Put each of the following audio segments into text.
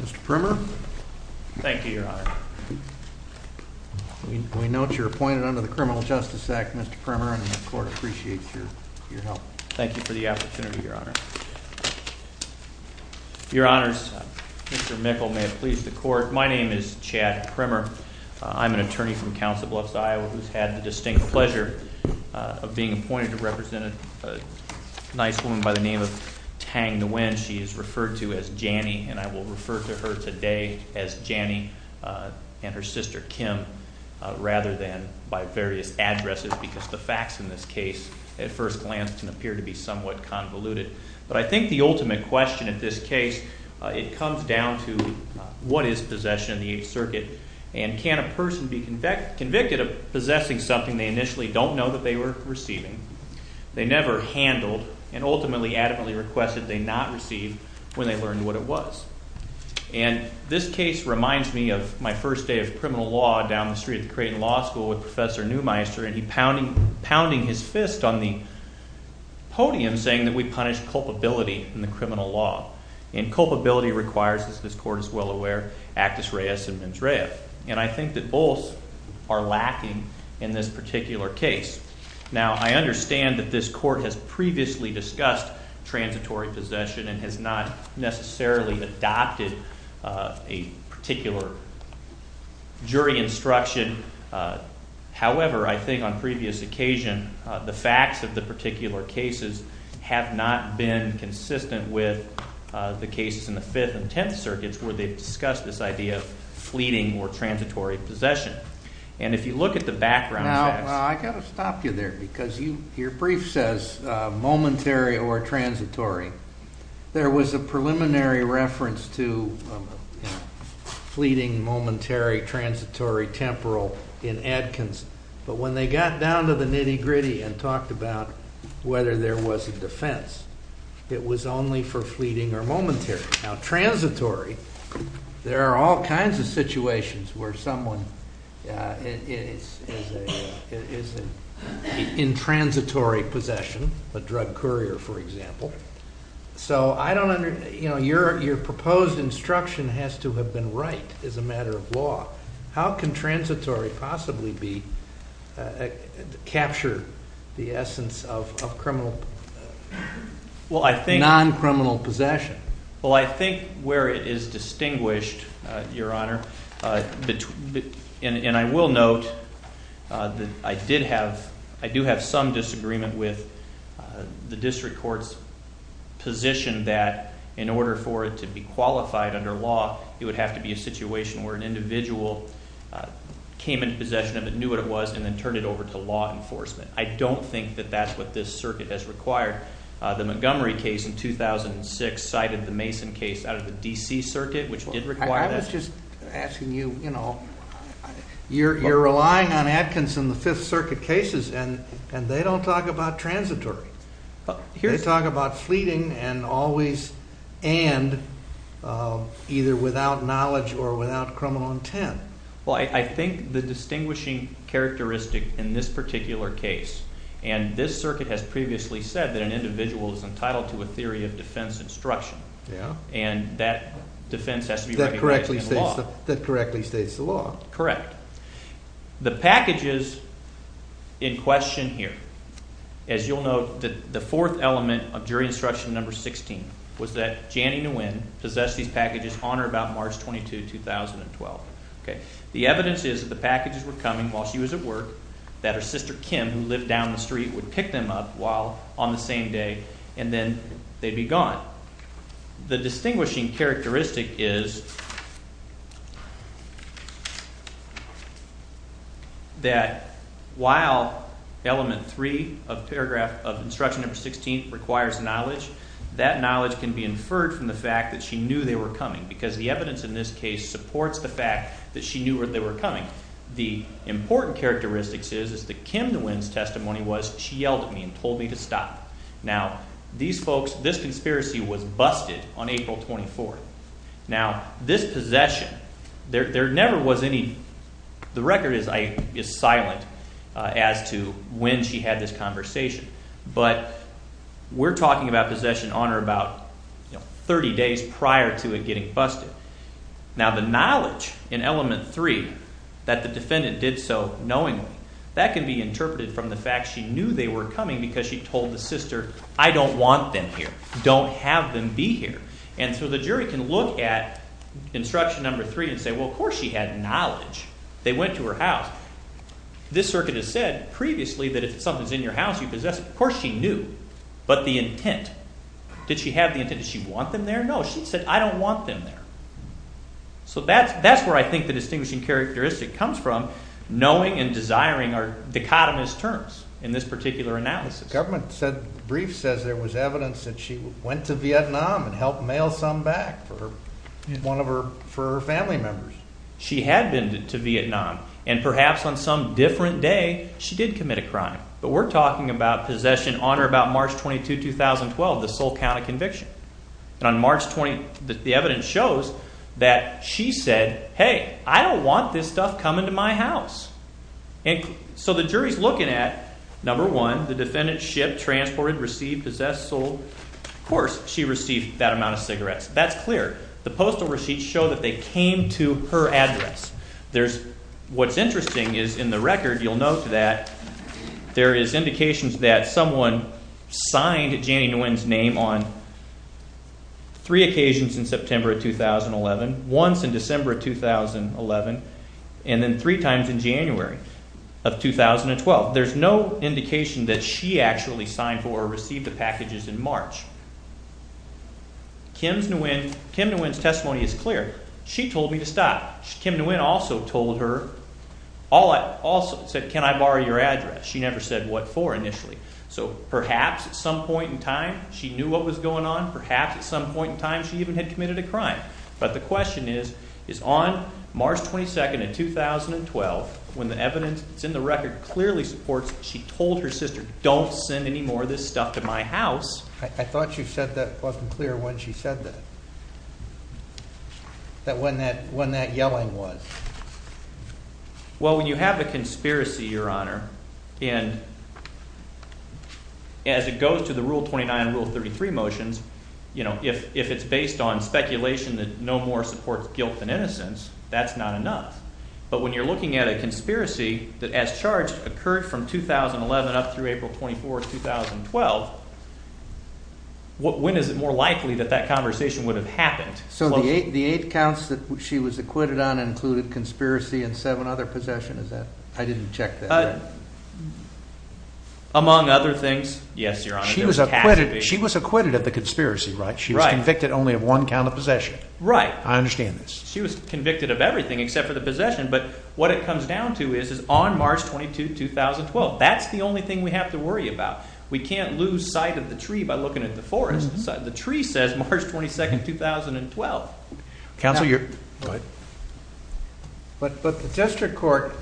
Mr. Primmer. Thank you, Your Honor. We note you're appointed under the Criminal Justice Act, Mr. Primmer, and the Court appreciates your help. Thank you for the opportunity, Your Honor. Your Honors, Mr. Mikkel, may it please the Court, my name is Chad Primmer. I'm an attorney from Council Bluffs, Iowa, who's had the distinct pleasure of being appointed to the name of Tang Nguyen. She is referred to as Janney, and I will refer to her today as Janney and her sister Kim, rather than by various addresses, because the facts in this case, at first glance, can appear to be somewhat convoluted. But I think the ultimate question at this case, it comes down to what is possession in the Eighth Circuit, and can a person be convicted of possessing something they initially don't know that they were receiving, they never handled, and ultimately, adamantly requested they not receive when they learned what it was. And this case reminds me of my first day of criminal law down the street at the Creighton Law School with Professor Neumeister, and he pounding his fist on the podium saying that we punish culpability in the criminal law. And culpability requires, as this Court is well aware, actus reus in mens rea. And I think that both are lacking in this particular case. Now, I understand that this Court has previously discussed transitory possession and has not necessarily adopted a particular jury instruction. However, I think on previous occasion, the facts of the particular cases have not been consistent with the cases in the Fifth and Tenth Circuits where they've discussed this idea of fleeting or transitory possession. And if you look at the background facts. Now, I've got to stop you there, because your brief says momentary or transitory. There was a preliminary reference to fleeting, momentary, transitory, temporal in Adkins, but when they got down to the nitty-gritty and talked about whether there was a defense, it was only for fleeting or momentary. Now, transitory, there are all kinds of situations where someone is in transitory possession, a drug courier, for example. So, I don't under, you know, your proposed instruction has to have been right as a matter of law. How can transitory possibly be, capture the essence of criminal, non-criminal possession? Well, I think where it is distinguished, Your Honor, and I will note that I did have, I do have some disagreement with the district court's position that in order for it to be qualified under law, it would have to be a situation where an individual came into possession of it, knew what it was, and then turned it over to law enforcement. I don't think that that's what this circuit has which did require that. I was just asking you, you know, you're relying on Adkins in the Fifth Circuit cases, and they don't talk about transitory. They talk about fleeting and always, and either without knowledge or without criminal intent. Well, I think the distinguishing characteristic in this particular case, and this circuit has previously said that an individual is that defense has to be recognized in the law. That correctly states the law. Correct. The packages in question here, as you'll note that the fourth element of jury instruction number 16 was that Janie Nguyen possessed these packages on or about March 22, 2012. Okay. The evidence is that the packages were coming while she was at work, that her sister Kim, who lived down the street, would pick them up while on the same day, and then they'd be gone. The distinguishing characteristic is that while element 3 of paragraph of instruction number 16 requires knowledge, that knowledge can be inferred from the fact that she knew they were coming, because the evidence in this case supports the fact that she knew where they were coming. The important characteristics is that Kim Nguyen's testimony was, she yelled at me and told me to stop. Now, these folks, this conspiracy was busted on April 24th. Now, this possession, there never was any, the record is silent as to when she had this conversation, but we're talking about possession on or about 30 days prior to it getting busted. Now, the knowledge in element 3 that the defendant did so knowingly, that can be interpreted from the fact that she knew they were coming because she told the sister, I don't want them here. Don't have them be here. And so the jury can look at instruction number 3 and say, well, of course she had knowledge. They went to her house. This circuit has said previously that if something's in your house, you possess it. Of course she knew, but the intent. Did she have the intent? Did she want them there? No. She said, I don't want them there. So that's, that's where I think the distinguishing characteristic comes from. Knowing and desiring are dichotomous terms in this particular analysis. The government said, brief says there was evidence that she went to Vietnam and helped mail some back for her, one of her, for her family members. She had been to Vietnam and perhaps on some different day, she did commit a crime, but we're talking about possession on or about March 22, 2012, the sole count of conviction. And on March 20, the evidence shows that she said, hey, I don't want this stuff coming to my house. And so the jury's looking at number one, the defendant shipped, transported, received, possessed, sold. Of course she received that amount of cigarettes. That's clear. The postal receipts show that they came to her address. There's, what's interesting is in the record, you'll note that there is indications that someone signed Janie Nguyen's name on three occasions in September of 2011, once in December of 2011, and then three times in January of 2012. There's no indication that she actually signed for or received the packages in March. Kim Nguyen, Kim Nguyen's testimony is clear. She told me to stop. Kim Nguyen also told her, also said, can I borrow your address? She never said what for initially. So perhaps at some point in time, she knew what was going on. Perhaps at some point in time, she even had committed a crime. But the question is, is on March 22, 2012, when the evidence that's in the record clearly supports she told her sister, don't send any more of this stuff to my house. I thought you said that wasn't clear when she said that, that when that when that yelling was. Well, when you have a conspiracy, Your Honor, and as it goes to the Rule 29, Rule 33 motions, you know, if if it's based on speculation that no more supports guilt than innocence, that's not enough. But when you're looking at a conspiracy that, as charged, occurred from 2011 up through April 24, 2012, when is it more likely that that conversation would have happened? So the eight counts that she was acquitted on included conspiracy and seven other possessions. I didn't check that. Among other things, yes, Your Honor. She was acquitted. She was acquitted of the conspiracy, right? She was convicted only of one count of possession. Right. I understand this. She was convicted of everything except for the possession. But what it comes down to is, is on March 22, 2012. That's the only thing we have to worry about. We can't lose sight of the tree by looking at the forest. The tree says March 22, 2012. Counsel, you're right. But but the District Court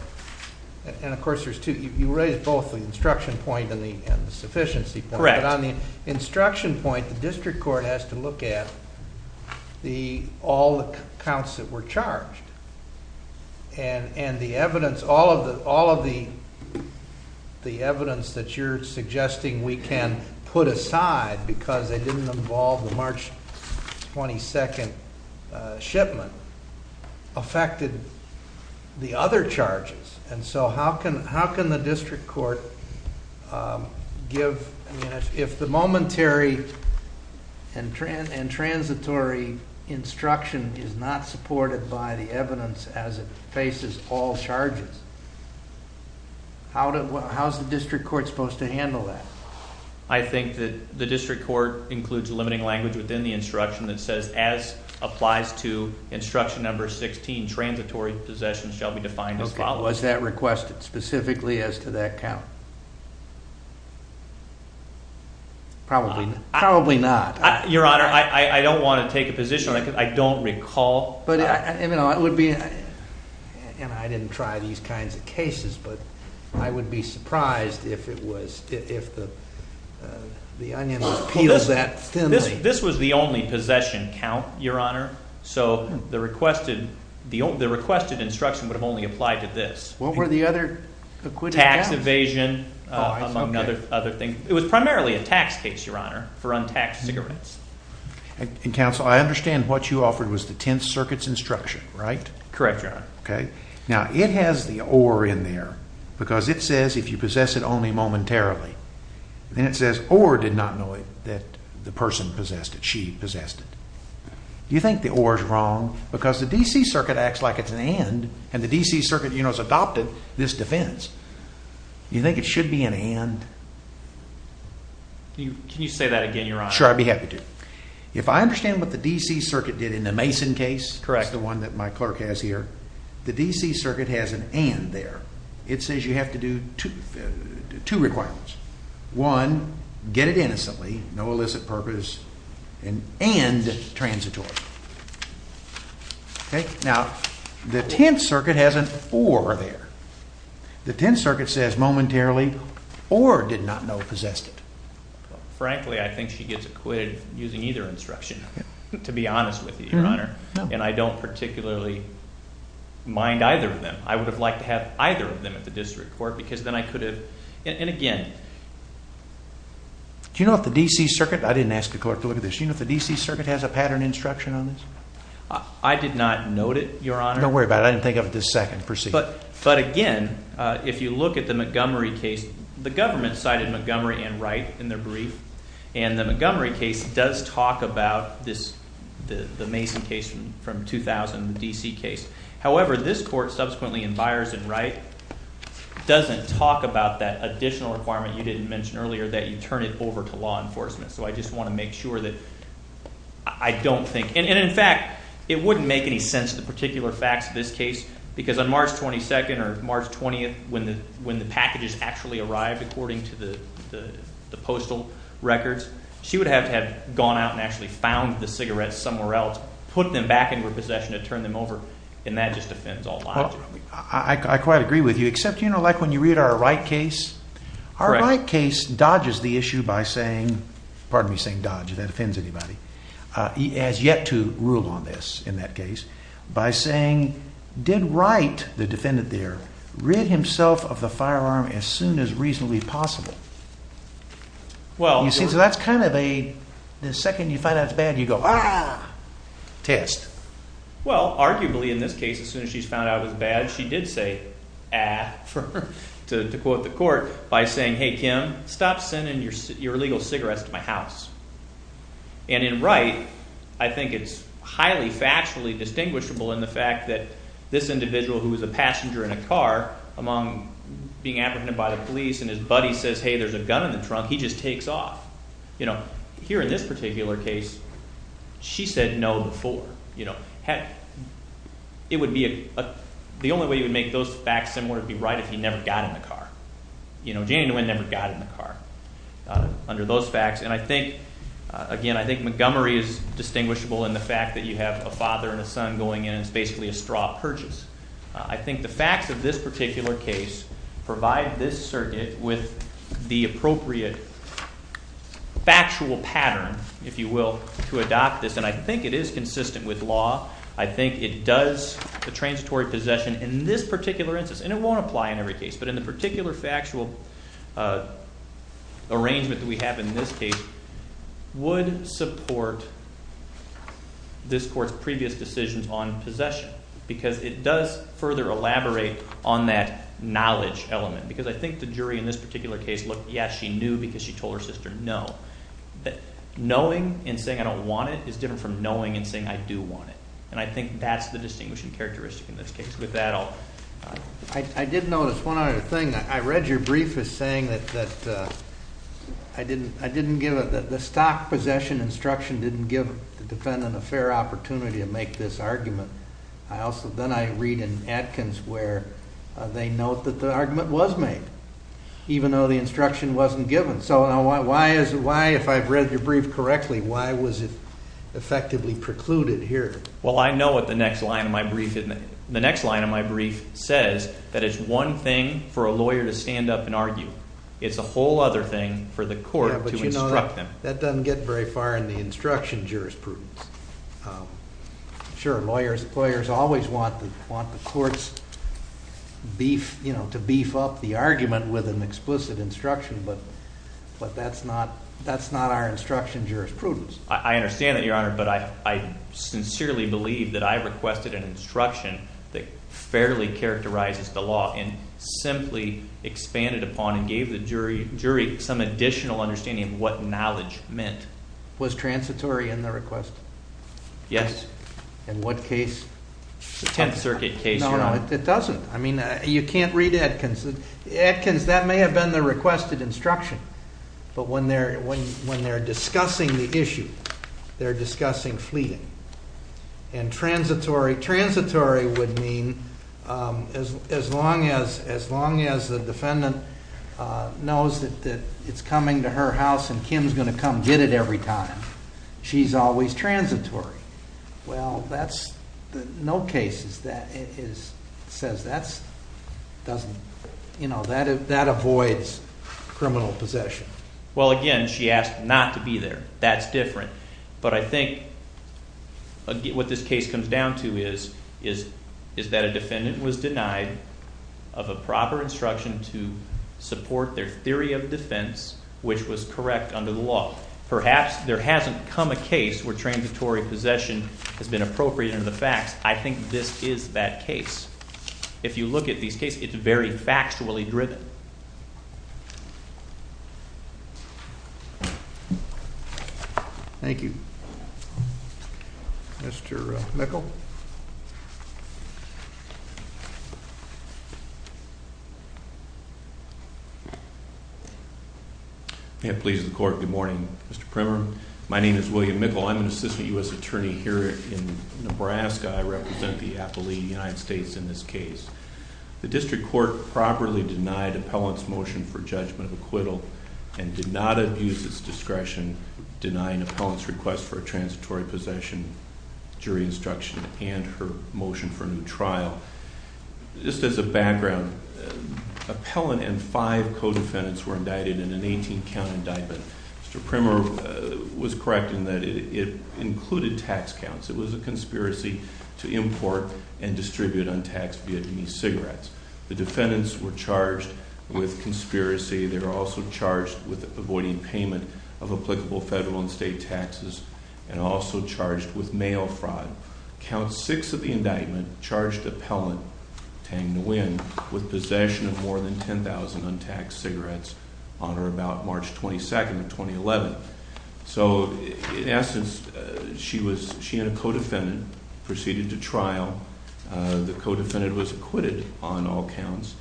and of course, there's two. You raised both the instruction point and the and the sufficiency. Correct. On the instruction point, the District Court has to look at the all the counts that were charged. And and the evidence, all of the all of the the evidence that you're suggesting we can put aside because they didn't involve the March 22nd shipment affected the other charges. And so how can how can the District Court give if the momentary and trans and instruction is not supported by the evidence as it faces all charges? How? How's the District Court supposed to handle that? I think that the District Court includes limiting language within the instruction that says, as applies to instruction number 16, transitory possession shall be defined as follows. That requested specifically as to that probably probably not. Your Honor, I don't want to take a position. I don't recall. But it would be. And I didn't try these kinds of cases, but I would be surprised if it was if the the onion peels that this this was the only possession count, Your Honor. So the requested the requested instruction would have only applied to this. What were the other tax evasion among other other things? It was primarily a tax case, Your Honor, for untaxed cigarettes. And Council, I understand what you offered was the 10th Circuit's instruction, right? Correct, Your Honor. Okay, now it has the or in there because it says if you possess it only momentarily, then it says or did not know it that the person possessed it. She possessed it. Do you think the or is wrong? Because the and the D. C. Circuit, you know, has adopted this defense. You think it should be an end? Can you say that again, Your Honor? Sure, I'd be happy to. If I understand what the D. C. Circuit did in the Mason case, correct the one that my clerk has here. The D. C. Circuit has an end there. It says you have to do to two requirements. One, get it innocently, no illicit purpose and transitory. Okay, now the 10th Circuit has an or there. The 10th Circuit says momentarily or did not know possessed it. Frankly, I think she gets acquitted using either instruction, to be honest with you, Your Honor, and I don't particularly mind either of them. I would have liked to have either of them at the district court because then I could have and again, do you know if the D. C. Circuit I didn't ask the clerk to look at this. You know, the D. C. Circuit has a pattern instruction on this. I did not note it, Your Honor. Don't worry about it. I didn't think of it this second. Proceed. But again, if you look at the Montgomery case, the government cited Montgomery and right in their brief and the Montgomery case does talk about this. The Mason case from 2000 D. C. Case. However, this court subsequently in buyers and I doesn't talk about that additional requirement. You didn't mention earlier that you turn it over to law enforcement. So I just want to make sure that I don't think and in fact, it wouldn't make any sense. The particular facts of this case, because on March 22nd or March 20th, when the when the packages actually arrived, according to the postal records, she would have to have gone out and actually found the cigarettes somewhere else, put them back in her possession and turn them over. And that just offends all. I quite agree with you, except, you know, like when you read our right case, our right case dodges the issue by saying, pardon me, saying dodge that offends anybody. He has yet to rule on this in that case by saying, did right the defendant there read himself of the firearm as soon as reasonably possible? Well, you see, so that's kind of a the second you find out it's bad, you go test. Well, arguably, in this case, as soon as she's found out it was bad, she did say, ah, to quote the court by saying, hey, Kim, stop sending your your illegal cigarettes to my house. And in right, I think it's highly factually distinguishable in the fact that this individual who was a passenger in a car among being apprehended by the trunk, he just takes off. You know, here in this particular case, she said no before. You know, it would be the only way you would make those facts similar would be right if he never got in the car. You know, Janie Nguyen never got in the car under those facts. And I think, again, I think Montgomery is distinguishable in the fact that you have a father and a son going in. It's basically a straw purchase. I think the facts of this particular case provide this circuit with the appropriate factual pattern, if you will, to adopt this. And I think it is consistent with law. I think it does the transitory possession in this particular instance, and it won't apply in every case. But in the particular factual arrangement that we have in this case would support this court's previous decisions on possession, because it does further elaborate on that knowledge element. Because I think the jury in this particular case looked, yes, she knew because she told her sister no. But knowing and saying I don't want it is different from knowing and saying I do want it. And I think that's the distinguishing characteristic in this case. With that, I'll... I did notice one other thing. I read your brief as saying that I didn't give it, the stock possession instruction didn't give the defendant a fair opportunity to make this argument. I also, then I read in Atkins where they note that the argument was made, even though the instruction wasn't given. So why, if I've read your brief correctly, why was it effectively precluded here? Well, I know what the next line of my brief, the next line of my brief says, that it's one thing for a lawyer to stand up and argue. It's a whole other thing for the that doesn't get very far in the instruction jurisprudence. Sure, lawyers always want the courts to beef up the argument with an explicit instruction, but that's not our instruction jurisprudence. I understand that, Your Honor, but I sincerely believe that I requested an instruction that fairly characterizes the law and simply expanded upon and gave the jury some additional understanding of what knowledge meant. Was transitory in the request? Yes. In what case? The Tenth Circuit case, Your Honor. No, no, it doesn't. I mean, you can't read Atkins. Atkins, that may have been the requested instruction, but when they're discussing the issue, they're discussing fleeting. And transitory, transitory would mean as long as the defendant knows that it's coming to her house and Kim's going to come get it every time, she's always transitory. Well, that's no case that says that's doesn't, you know, that avoids criminal possession. Well, again, she asked not to be there. That's different. But I think what this case comes down to is that a defendant was denied of a proper instruction to support their theory of defense, which was correct under the law. Perhaps there hasn't come a case where transitory possession has been appropriate in the facts. I think this is that case. If you look at these cases, it's very factually driven. Thank you, Mr. Mickel. It pleases the court. Good morning, Mr. Primmer. My name is William Mickel. I'm an assistant U.S. attorney here in Nebraska. I represent the appellee United States in this case. The district court properly denied appellant's motion for judgment of acquittal and did not abuse its discretion denying appellant's request for a transitory possession, jury instruction, and her motion for a new trial. Just as a background, appellant and five co-defendants were indicted in an 18-count indictment. Mr. Primmer was correct in that it included tax counts. It was a conspiracy to import and distribute untaxed Vietnamese cigarettes. The defendants were charged with conspiracy. They were also charged with avoiding payment of applicable federal and state taxes and also charged with mail fraud. Count six of the indictment charged appellant Tang Nguyen with possession of more than 10,000 untaxed cigarettes on or about March 22, 2011. So in essence, she and a co-defendant proceeded to trial. The co-defendant was acquitted on all counts.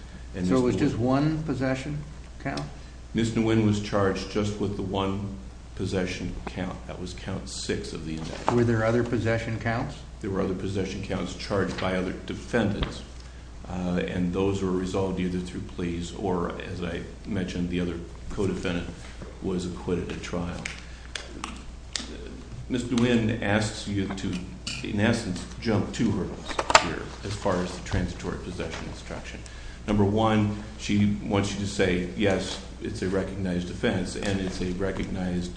So it was just one possession count? Ms. Nguyen was charged just with the one possession count. That was count six of the indictment. Were there other possession counts? There were other possession counts charged by other defendants and those were resolved either through pleas or, as I mentioned, the other co-defendant was acquitted at trial. Ms. Nguyen asks you to, in essence, jump two hurdles here as far as the transitory possession instruction. Number one, she wants you to say, yes, it's a recognized offense and it's a recognized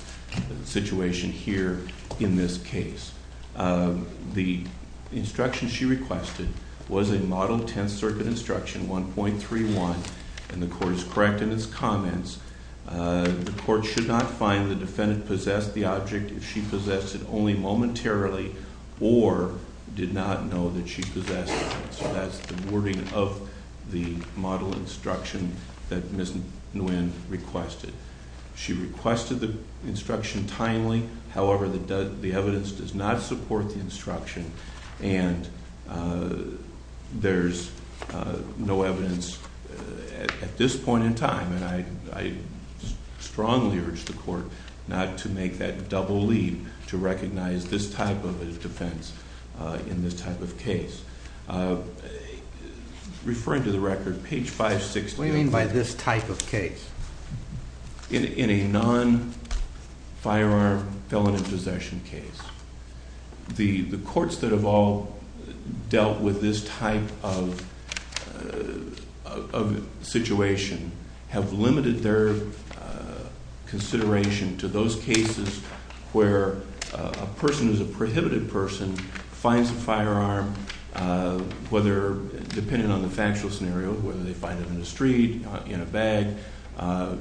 situation here in this case. The instruction she requested was a model 10 circuit instruction 1.31 and the court is correct in its comments. The court should not find the defendant possessed the object if she possessed it only momentarily or did not know that she possessed it. So that's the wording of the model instruction that Ms. Nguyen requested. She requested the instruction timely. However, the evidence does not support the instruction and there's no evidence at this point in time and I strongly urge the court not to make that double leap to recognize this type of a defense in this type of case. Referring to the record, page 560. What do you mean by this type of case? In a non-firearm felon in possession case, the courts that have all dealt with this type of situation have limited their consideration to those cases where a person who's a prohibited person finds a firearm, whether, depending on the factual scenario, whether they find it in a street, in a bag,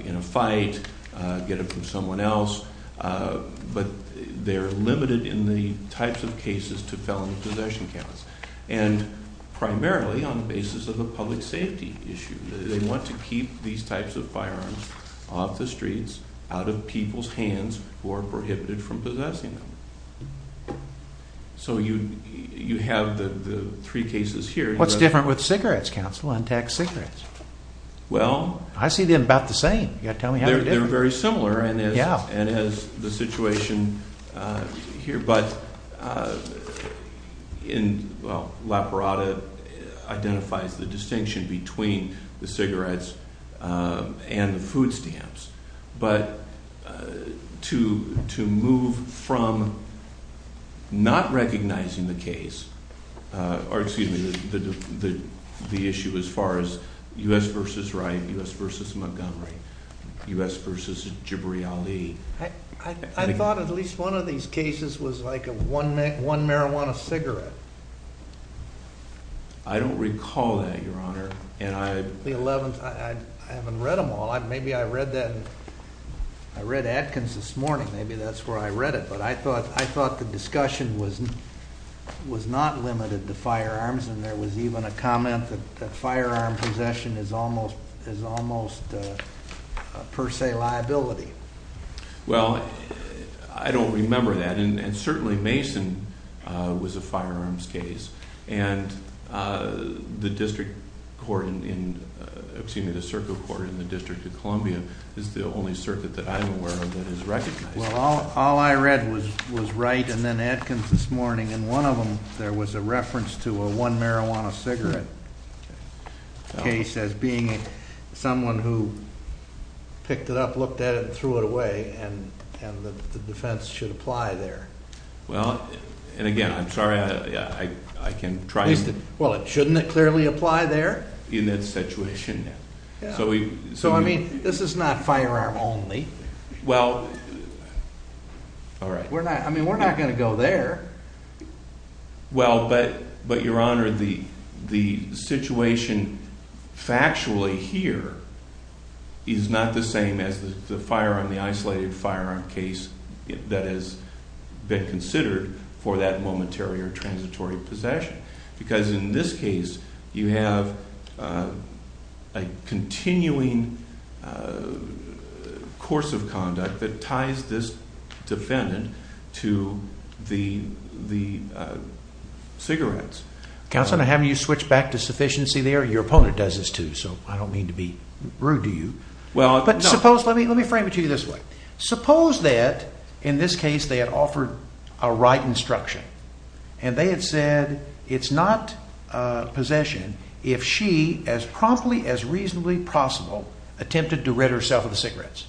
in a fight, get it from someone else, but they're limited in the types of cases to felony possession counts and primarily on the basis of a public safety issue. They want to keep these types of firearms off the streets, out of people's hands who are prohibited from possessing them. So you have the three cases here. What's different with cigarettes, counsel, untaxed well? I see them about the same. You got to tell me. They're very similar and as the situation here, but in, well, Laparada identifies the distinction between the cigarettes and the food versus Montgomery, U.S. versus Jibriyali. I thought at least one of these cases was like a one marijuana cigarette. I don't recall that, your honor. And I, the 11th, I haven't read them all. Maybe I read that, I read Atkins this morning, maybe that's where I read it, but I thought the discussion was not limited to firearms and there was even a comment that firearm possession is almost, is almost per se liability. Well, I don't remember that and certainly Mason was a firearms case and the district court in, excuse me, the circle court in the District of Columbia is the only circuit that I'm aware of that is recognized. Well, all I read was, was Wright and then Atkins this morning and one of them there was a reference to a one marijuana cigarette case as being someone who picked it up, looked at it and threw it away and, and the defense should apply there. Well, and again, I'm sorry, I, I, I can try. Well, it shouldn't clearly apply there. In that situation. So we, so I mean, this is not firearm only. Well, all right. We're not, I mean, we're not going to go there. Well, but, but your honor, the, the situation factually here is not the same as the firearm, the isolated firearm case that has been considered for that momentary or transitory possession. Because in this case, you have a continuing course of conduct that ties this defendant to the, the cigarettes. Counselor, now having you switch back to sufficiency there, your opponent does this too. So I don't mean to be rude to you. Well, but suppose, let me, let me frame it to you this way. Suppose that in this case, they had offered a right instruction and they had said, it's not possession if she as promptly as reasonably possible attempted to rid herself of the cigarettes.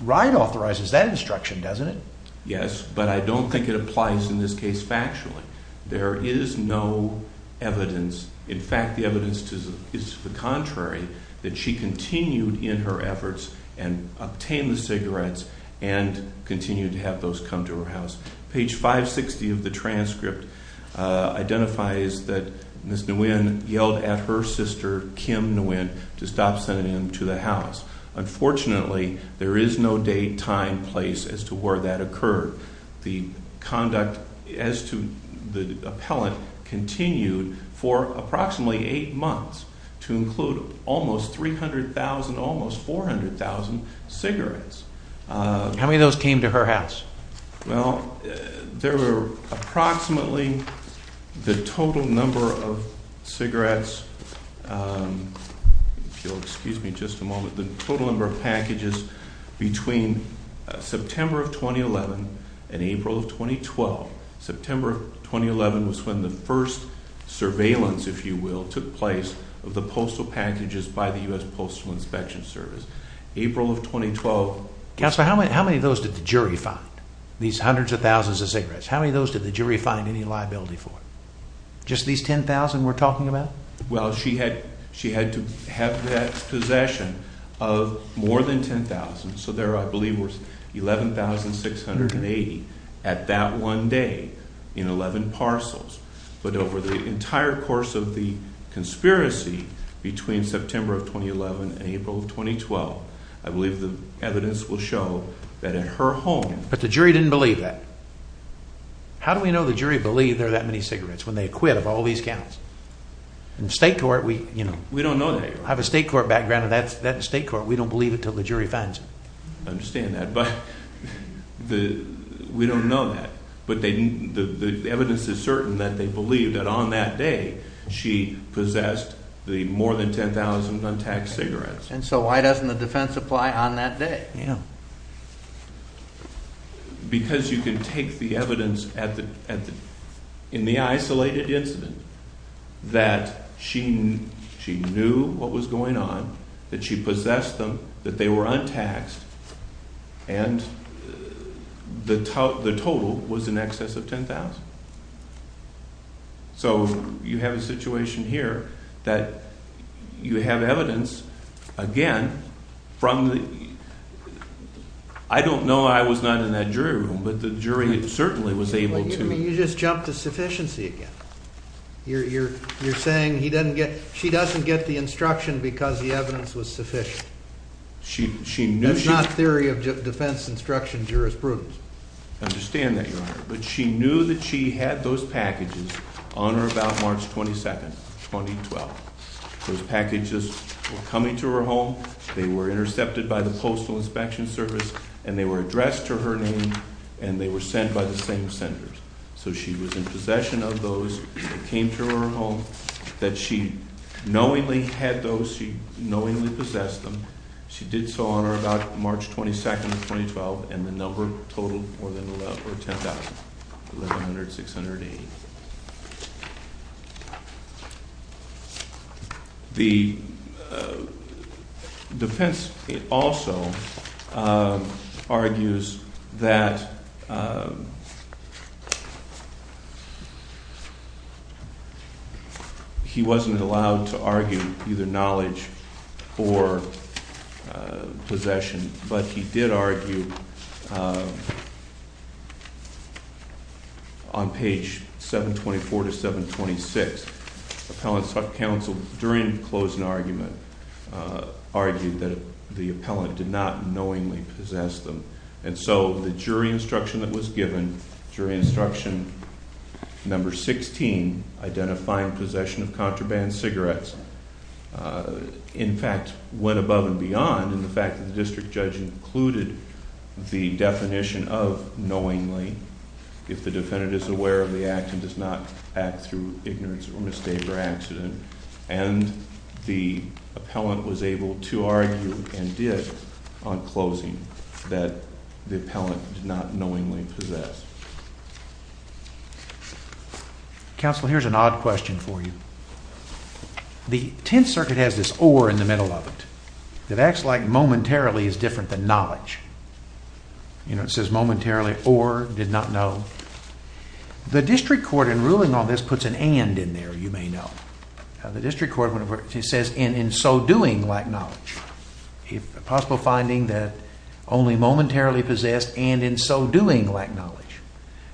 Wright authorizes that instruction, doesn't it? Yes, but I don't think it applies in this case factually. There is no evidence. In fact, the evidence is the contrary, that she continued in her efforts and obtain the cigarettes and continued to have those come to her house. Page 560 of the transcript identifies that Ms. Nguyen yelled at her sister, Kim Nguyen, to stop sending them to the house. Unfortunately, there is no date, time, place as to where that occurred. The conduct as to the appellant continued for approximately eight months to include almost 300,000, almost 400,000 cigarettes. How many of those came to her house? Well, there were approximately the total number of cigarettes, if you'll excuse me just a moment, the total number of packages between September of 2011 and April of 2012. September 2011 was when the first surveillance, if you will, took place of the postal packages by the U.S. Postal Inspection Service. April of 2012. Counselor, how many of those did the jury find, these hundreds of thousands of cigarettes? How many of those did the jury find any liability for? Just these 10,000 we're talking about? Well, she had to have that possession of more than 10,000. So there, I believe, were 11,680 at that one day in 11 parcels. But over the entire course of the conspiracy between September of 2011 and April of 2012, I believe the evidence will show that at her home... But the jury didn't believe that. How do we know the jury believed there are that many cigarettes when they acquit of all these counts? In state court, we, you know... We don't know that. I have a state court background of that state court. We don't believe it until the jury finds it. I understand that, but we don't know that. But the evidence is certain that they believed that on that day she possessed the more than 10,000 untaxed cigarettes. And so why doesn't the defense apply on that day? Because you can take the evidence in the isolated incident that she knew what was going on, that she possessed them, that they were untaxed, and the total was in excess of 10,000. So you have a situation here that you have evidence, again, from the... I don't know, I was not in that jury room, but the jury certainly was able to... You just jumped to sufficiency again. You're saying she doesn't get the instruction because the evidence was sufficient. That's not theory of defense instruction jurisprudence. I understand that, Your Honor, but she knew that she had those packages on her about March 22nd, 2012. Those packages were coming to her home, they were intercepted by the Postal Inspection Service, and they were addressed to her name, and they were sent by the same sender. So she was in knowingly possessed them. She did so on her about March 22nd, 2012, and the number totaled more than 10,000, 1,100, 680. The defense also argues that he wasn't allowed to argue either knowledge or possession, but he did argue on page 724 to 726. Appellants counsel, during closing argument, argued that the appellant did knowingly possess them, and so the jury instruction that was given, jury instruction number 16, identifying possession of contraband cigarettes, in fact, went above and beyond in the fact that the district judge included the definition of knowingly, if the defendant is aware of the act and does not act through ignorance or mistake or on closing, that the appellant did not knowingly possess. Counsel, here's an odd question for you. The Tenth Circuit has this or in the middle of it. It acts like momentarily is different than knowledge. You know, it says momentarily or did not know. The district court in ruling on this puts an and in there, you may know. The district court says in so doing lack knowledge. A possible finding that only momentarily possessed and in so doing lack knowledge.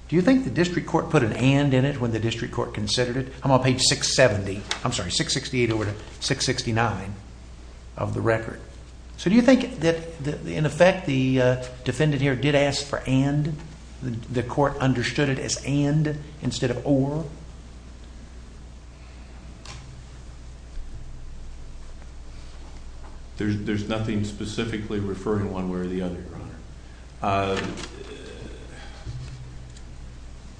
Do you think the district court put an and in it when the district court considered it? I'm on page 670, I'm sorry, 668 over to 669 of the record. So do you think that in effect the defendant here did ask for and, the court understood it as and instead of or? There's nothing specifically referring one way or the other, Your Honor.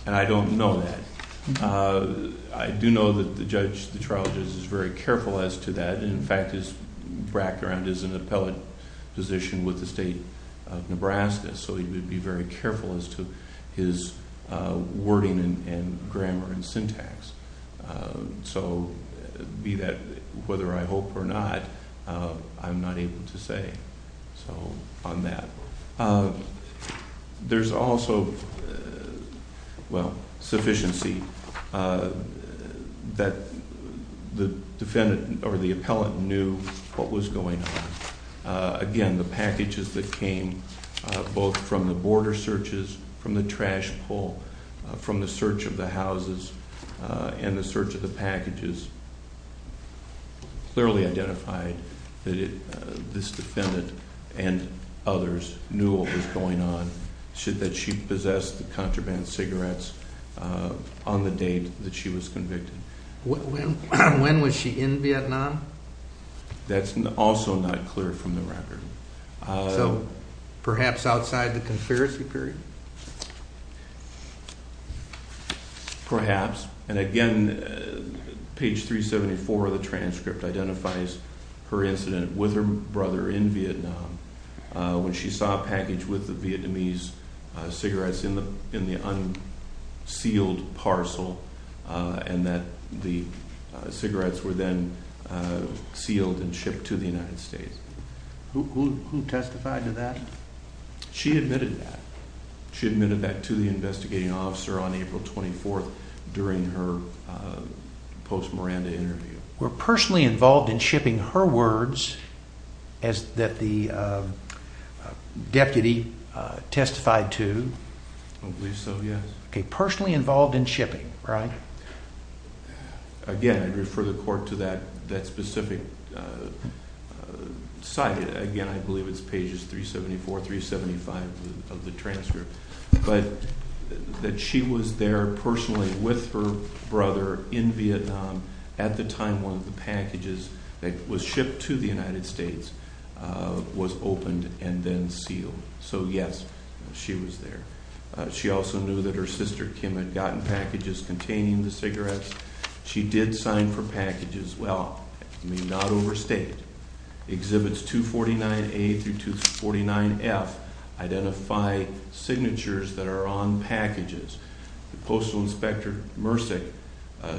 And I don't know that. I do know that the judge, the trial judge is very careful as to that. In fact, his background is an appellate position with the state of Nebraska. So he would be very careful as to his wording and grammar and syntax. So be that whether I hope or not, I'm not able to say so on that. There's also, well, sufficiency that the defendant or the from the trash pull, from the search of the houses and the search of the packages. Clearly identified that this defendant and others knew what was going on, should that she possessed the contraband cigarettes on the date that she was convicted. When was she in Vietnam? That's also not clear from the record. So perhaps outside the conspiracy period? Perhaps. And again, page 374 of the transcript identifies her incident with her brother in Vietnam when she saw a package with the Vietnamese cigarettes in the unsealed parcel and that the Who testified to that? She admitted that. She admitted that to the investigating officer on April 24th during her post Miranda interview. Were personally involved in shipping her words as that the deputy testified to? I believe so, yes. Okay, personally involved in shipping, right? So again, I'd refer the court to that that specific site. Again, I believe it's pages 374-375 of the transcript, but that she was there personally with her brother in Vietnam at the time one of the packages that was shipped to the United States was opened and then sealed. So yes, she was there. She also knew that her cigarettes. She did sign for packages. Well, may not overstate exhibits 249-A through 249-F identify signatures that are on packages. The Postal Inspector Mercek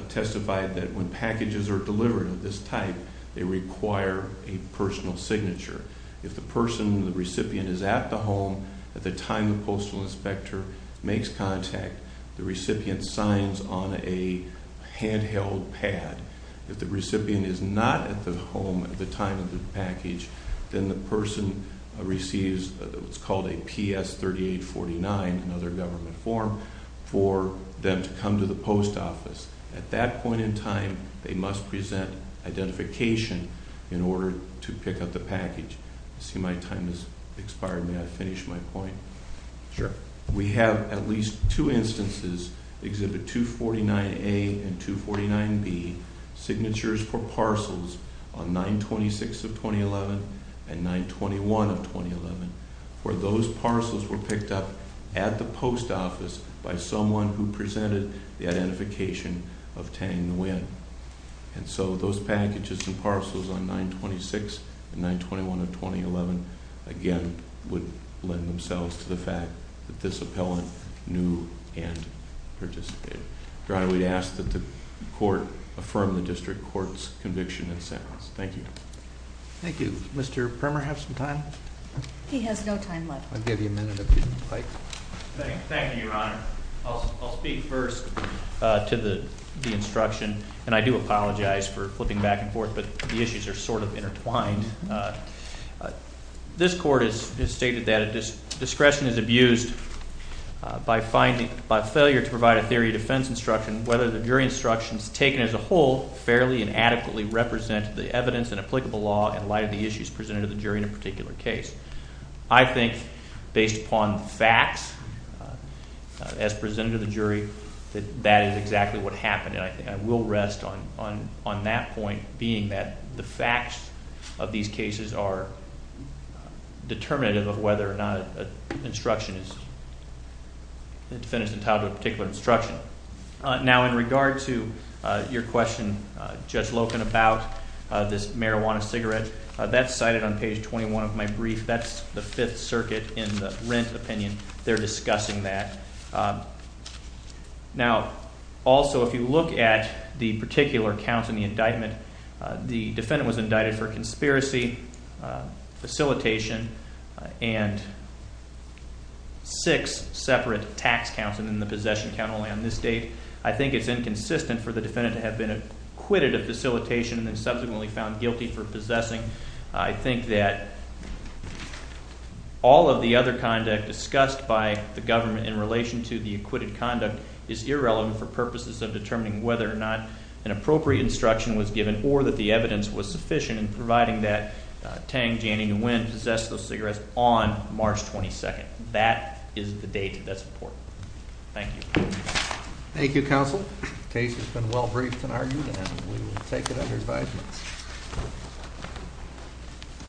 testified that when packages are delivered of this type, they require a personal signature. If the person, the recipient is at the home at the time, the Postal Inspector makes contact, the recipient signs on a handheld pad. If the recipient is not at the home at the time of the package, then the person receives what's called a PS 3849, another government form for them to come to the post office. At that point in time, they must present identification in order to pick up the package. I see my time has expired. May I finish my point? Sure. We have at least two instances, Exhibit 249-A and 249-B, signatures for parcels on 9-26 of 2011 and 9-21 of 2011, where those parcels were picked up at the post office by someone who presented the identification of Tang Nguyen. And so those packages and parcels on 9-26 and 9-21 of 2011, again, would lend themselves to the fact that this appellant knew and participated. Your Honor, we'd ask that the court affirm the district court's conviction and sentence. Thank you. Thank you. Mr. Primer have some time? He has no time left. I'll give you a minute if you'd like. Thank you, Your Honor. I'll speak first to the instruction, and I do apologize for flipping back and forth, but the issues are sort of intertwined. This court has stated that discretion is abused by failure to provide a theory of defense instruction whether the jury instructions taken as a whole fairly and adequately represent the evidence and applicable law in light of the issues presented to the jury in a particular case. I think based upon facts as presented to the jury that that is exactly what happened, and I think I will rest on that point being that the facts of these cases are determinative of whether or not an instruction is, the defendant is entitled to a particular instruction. Now in regard to your question, Judge Loken, about this marijuana cigarette, that's cited on page 21 of my brief. That's the Fifth Circuit in the rent opinion. They're discussing that. Now also if you look at the particular counts in the indictment, the defendant was indicted for conspiracy, facilitation, and six separate tax counts, and then the possession count only on this date. I think it's inconsistent for the defendant to have been acquitted of facilitation and subsequently found guilty for possessing. I think that all of the other conduct discussed by the government in relation to the acquitted conduct is irrelevant for purposes of determining whether or not an appropriate instruction was given or that the evidence was sufficient in providing that Tang, Janning, and Winn possessed those cigarettes on March 22nd. That is the date. That's important. Thank you. Thank you, counsel. Case has been well briefed and argued, and we will take it under five minutes.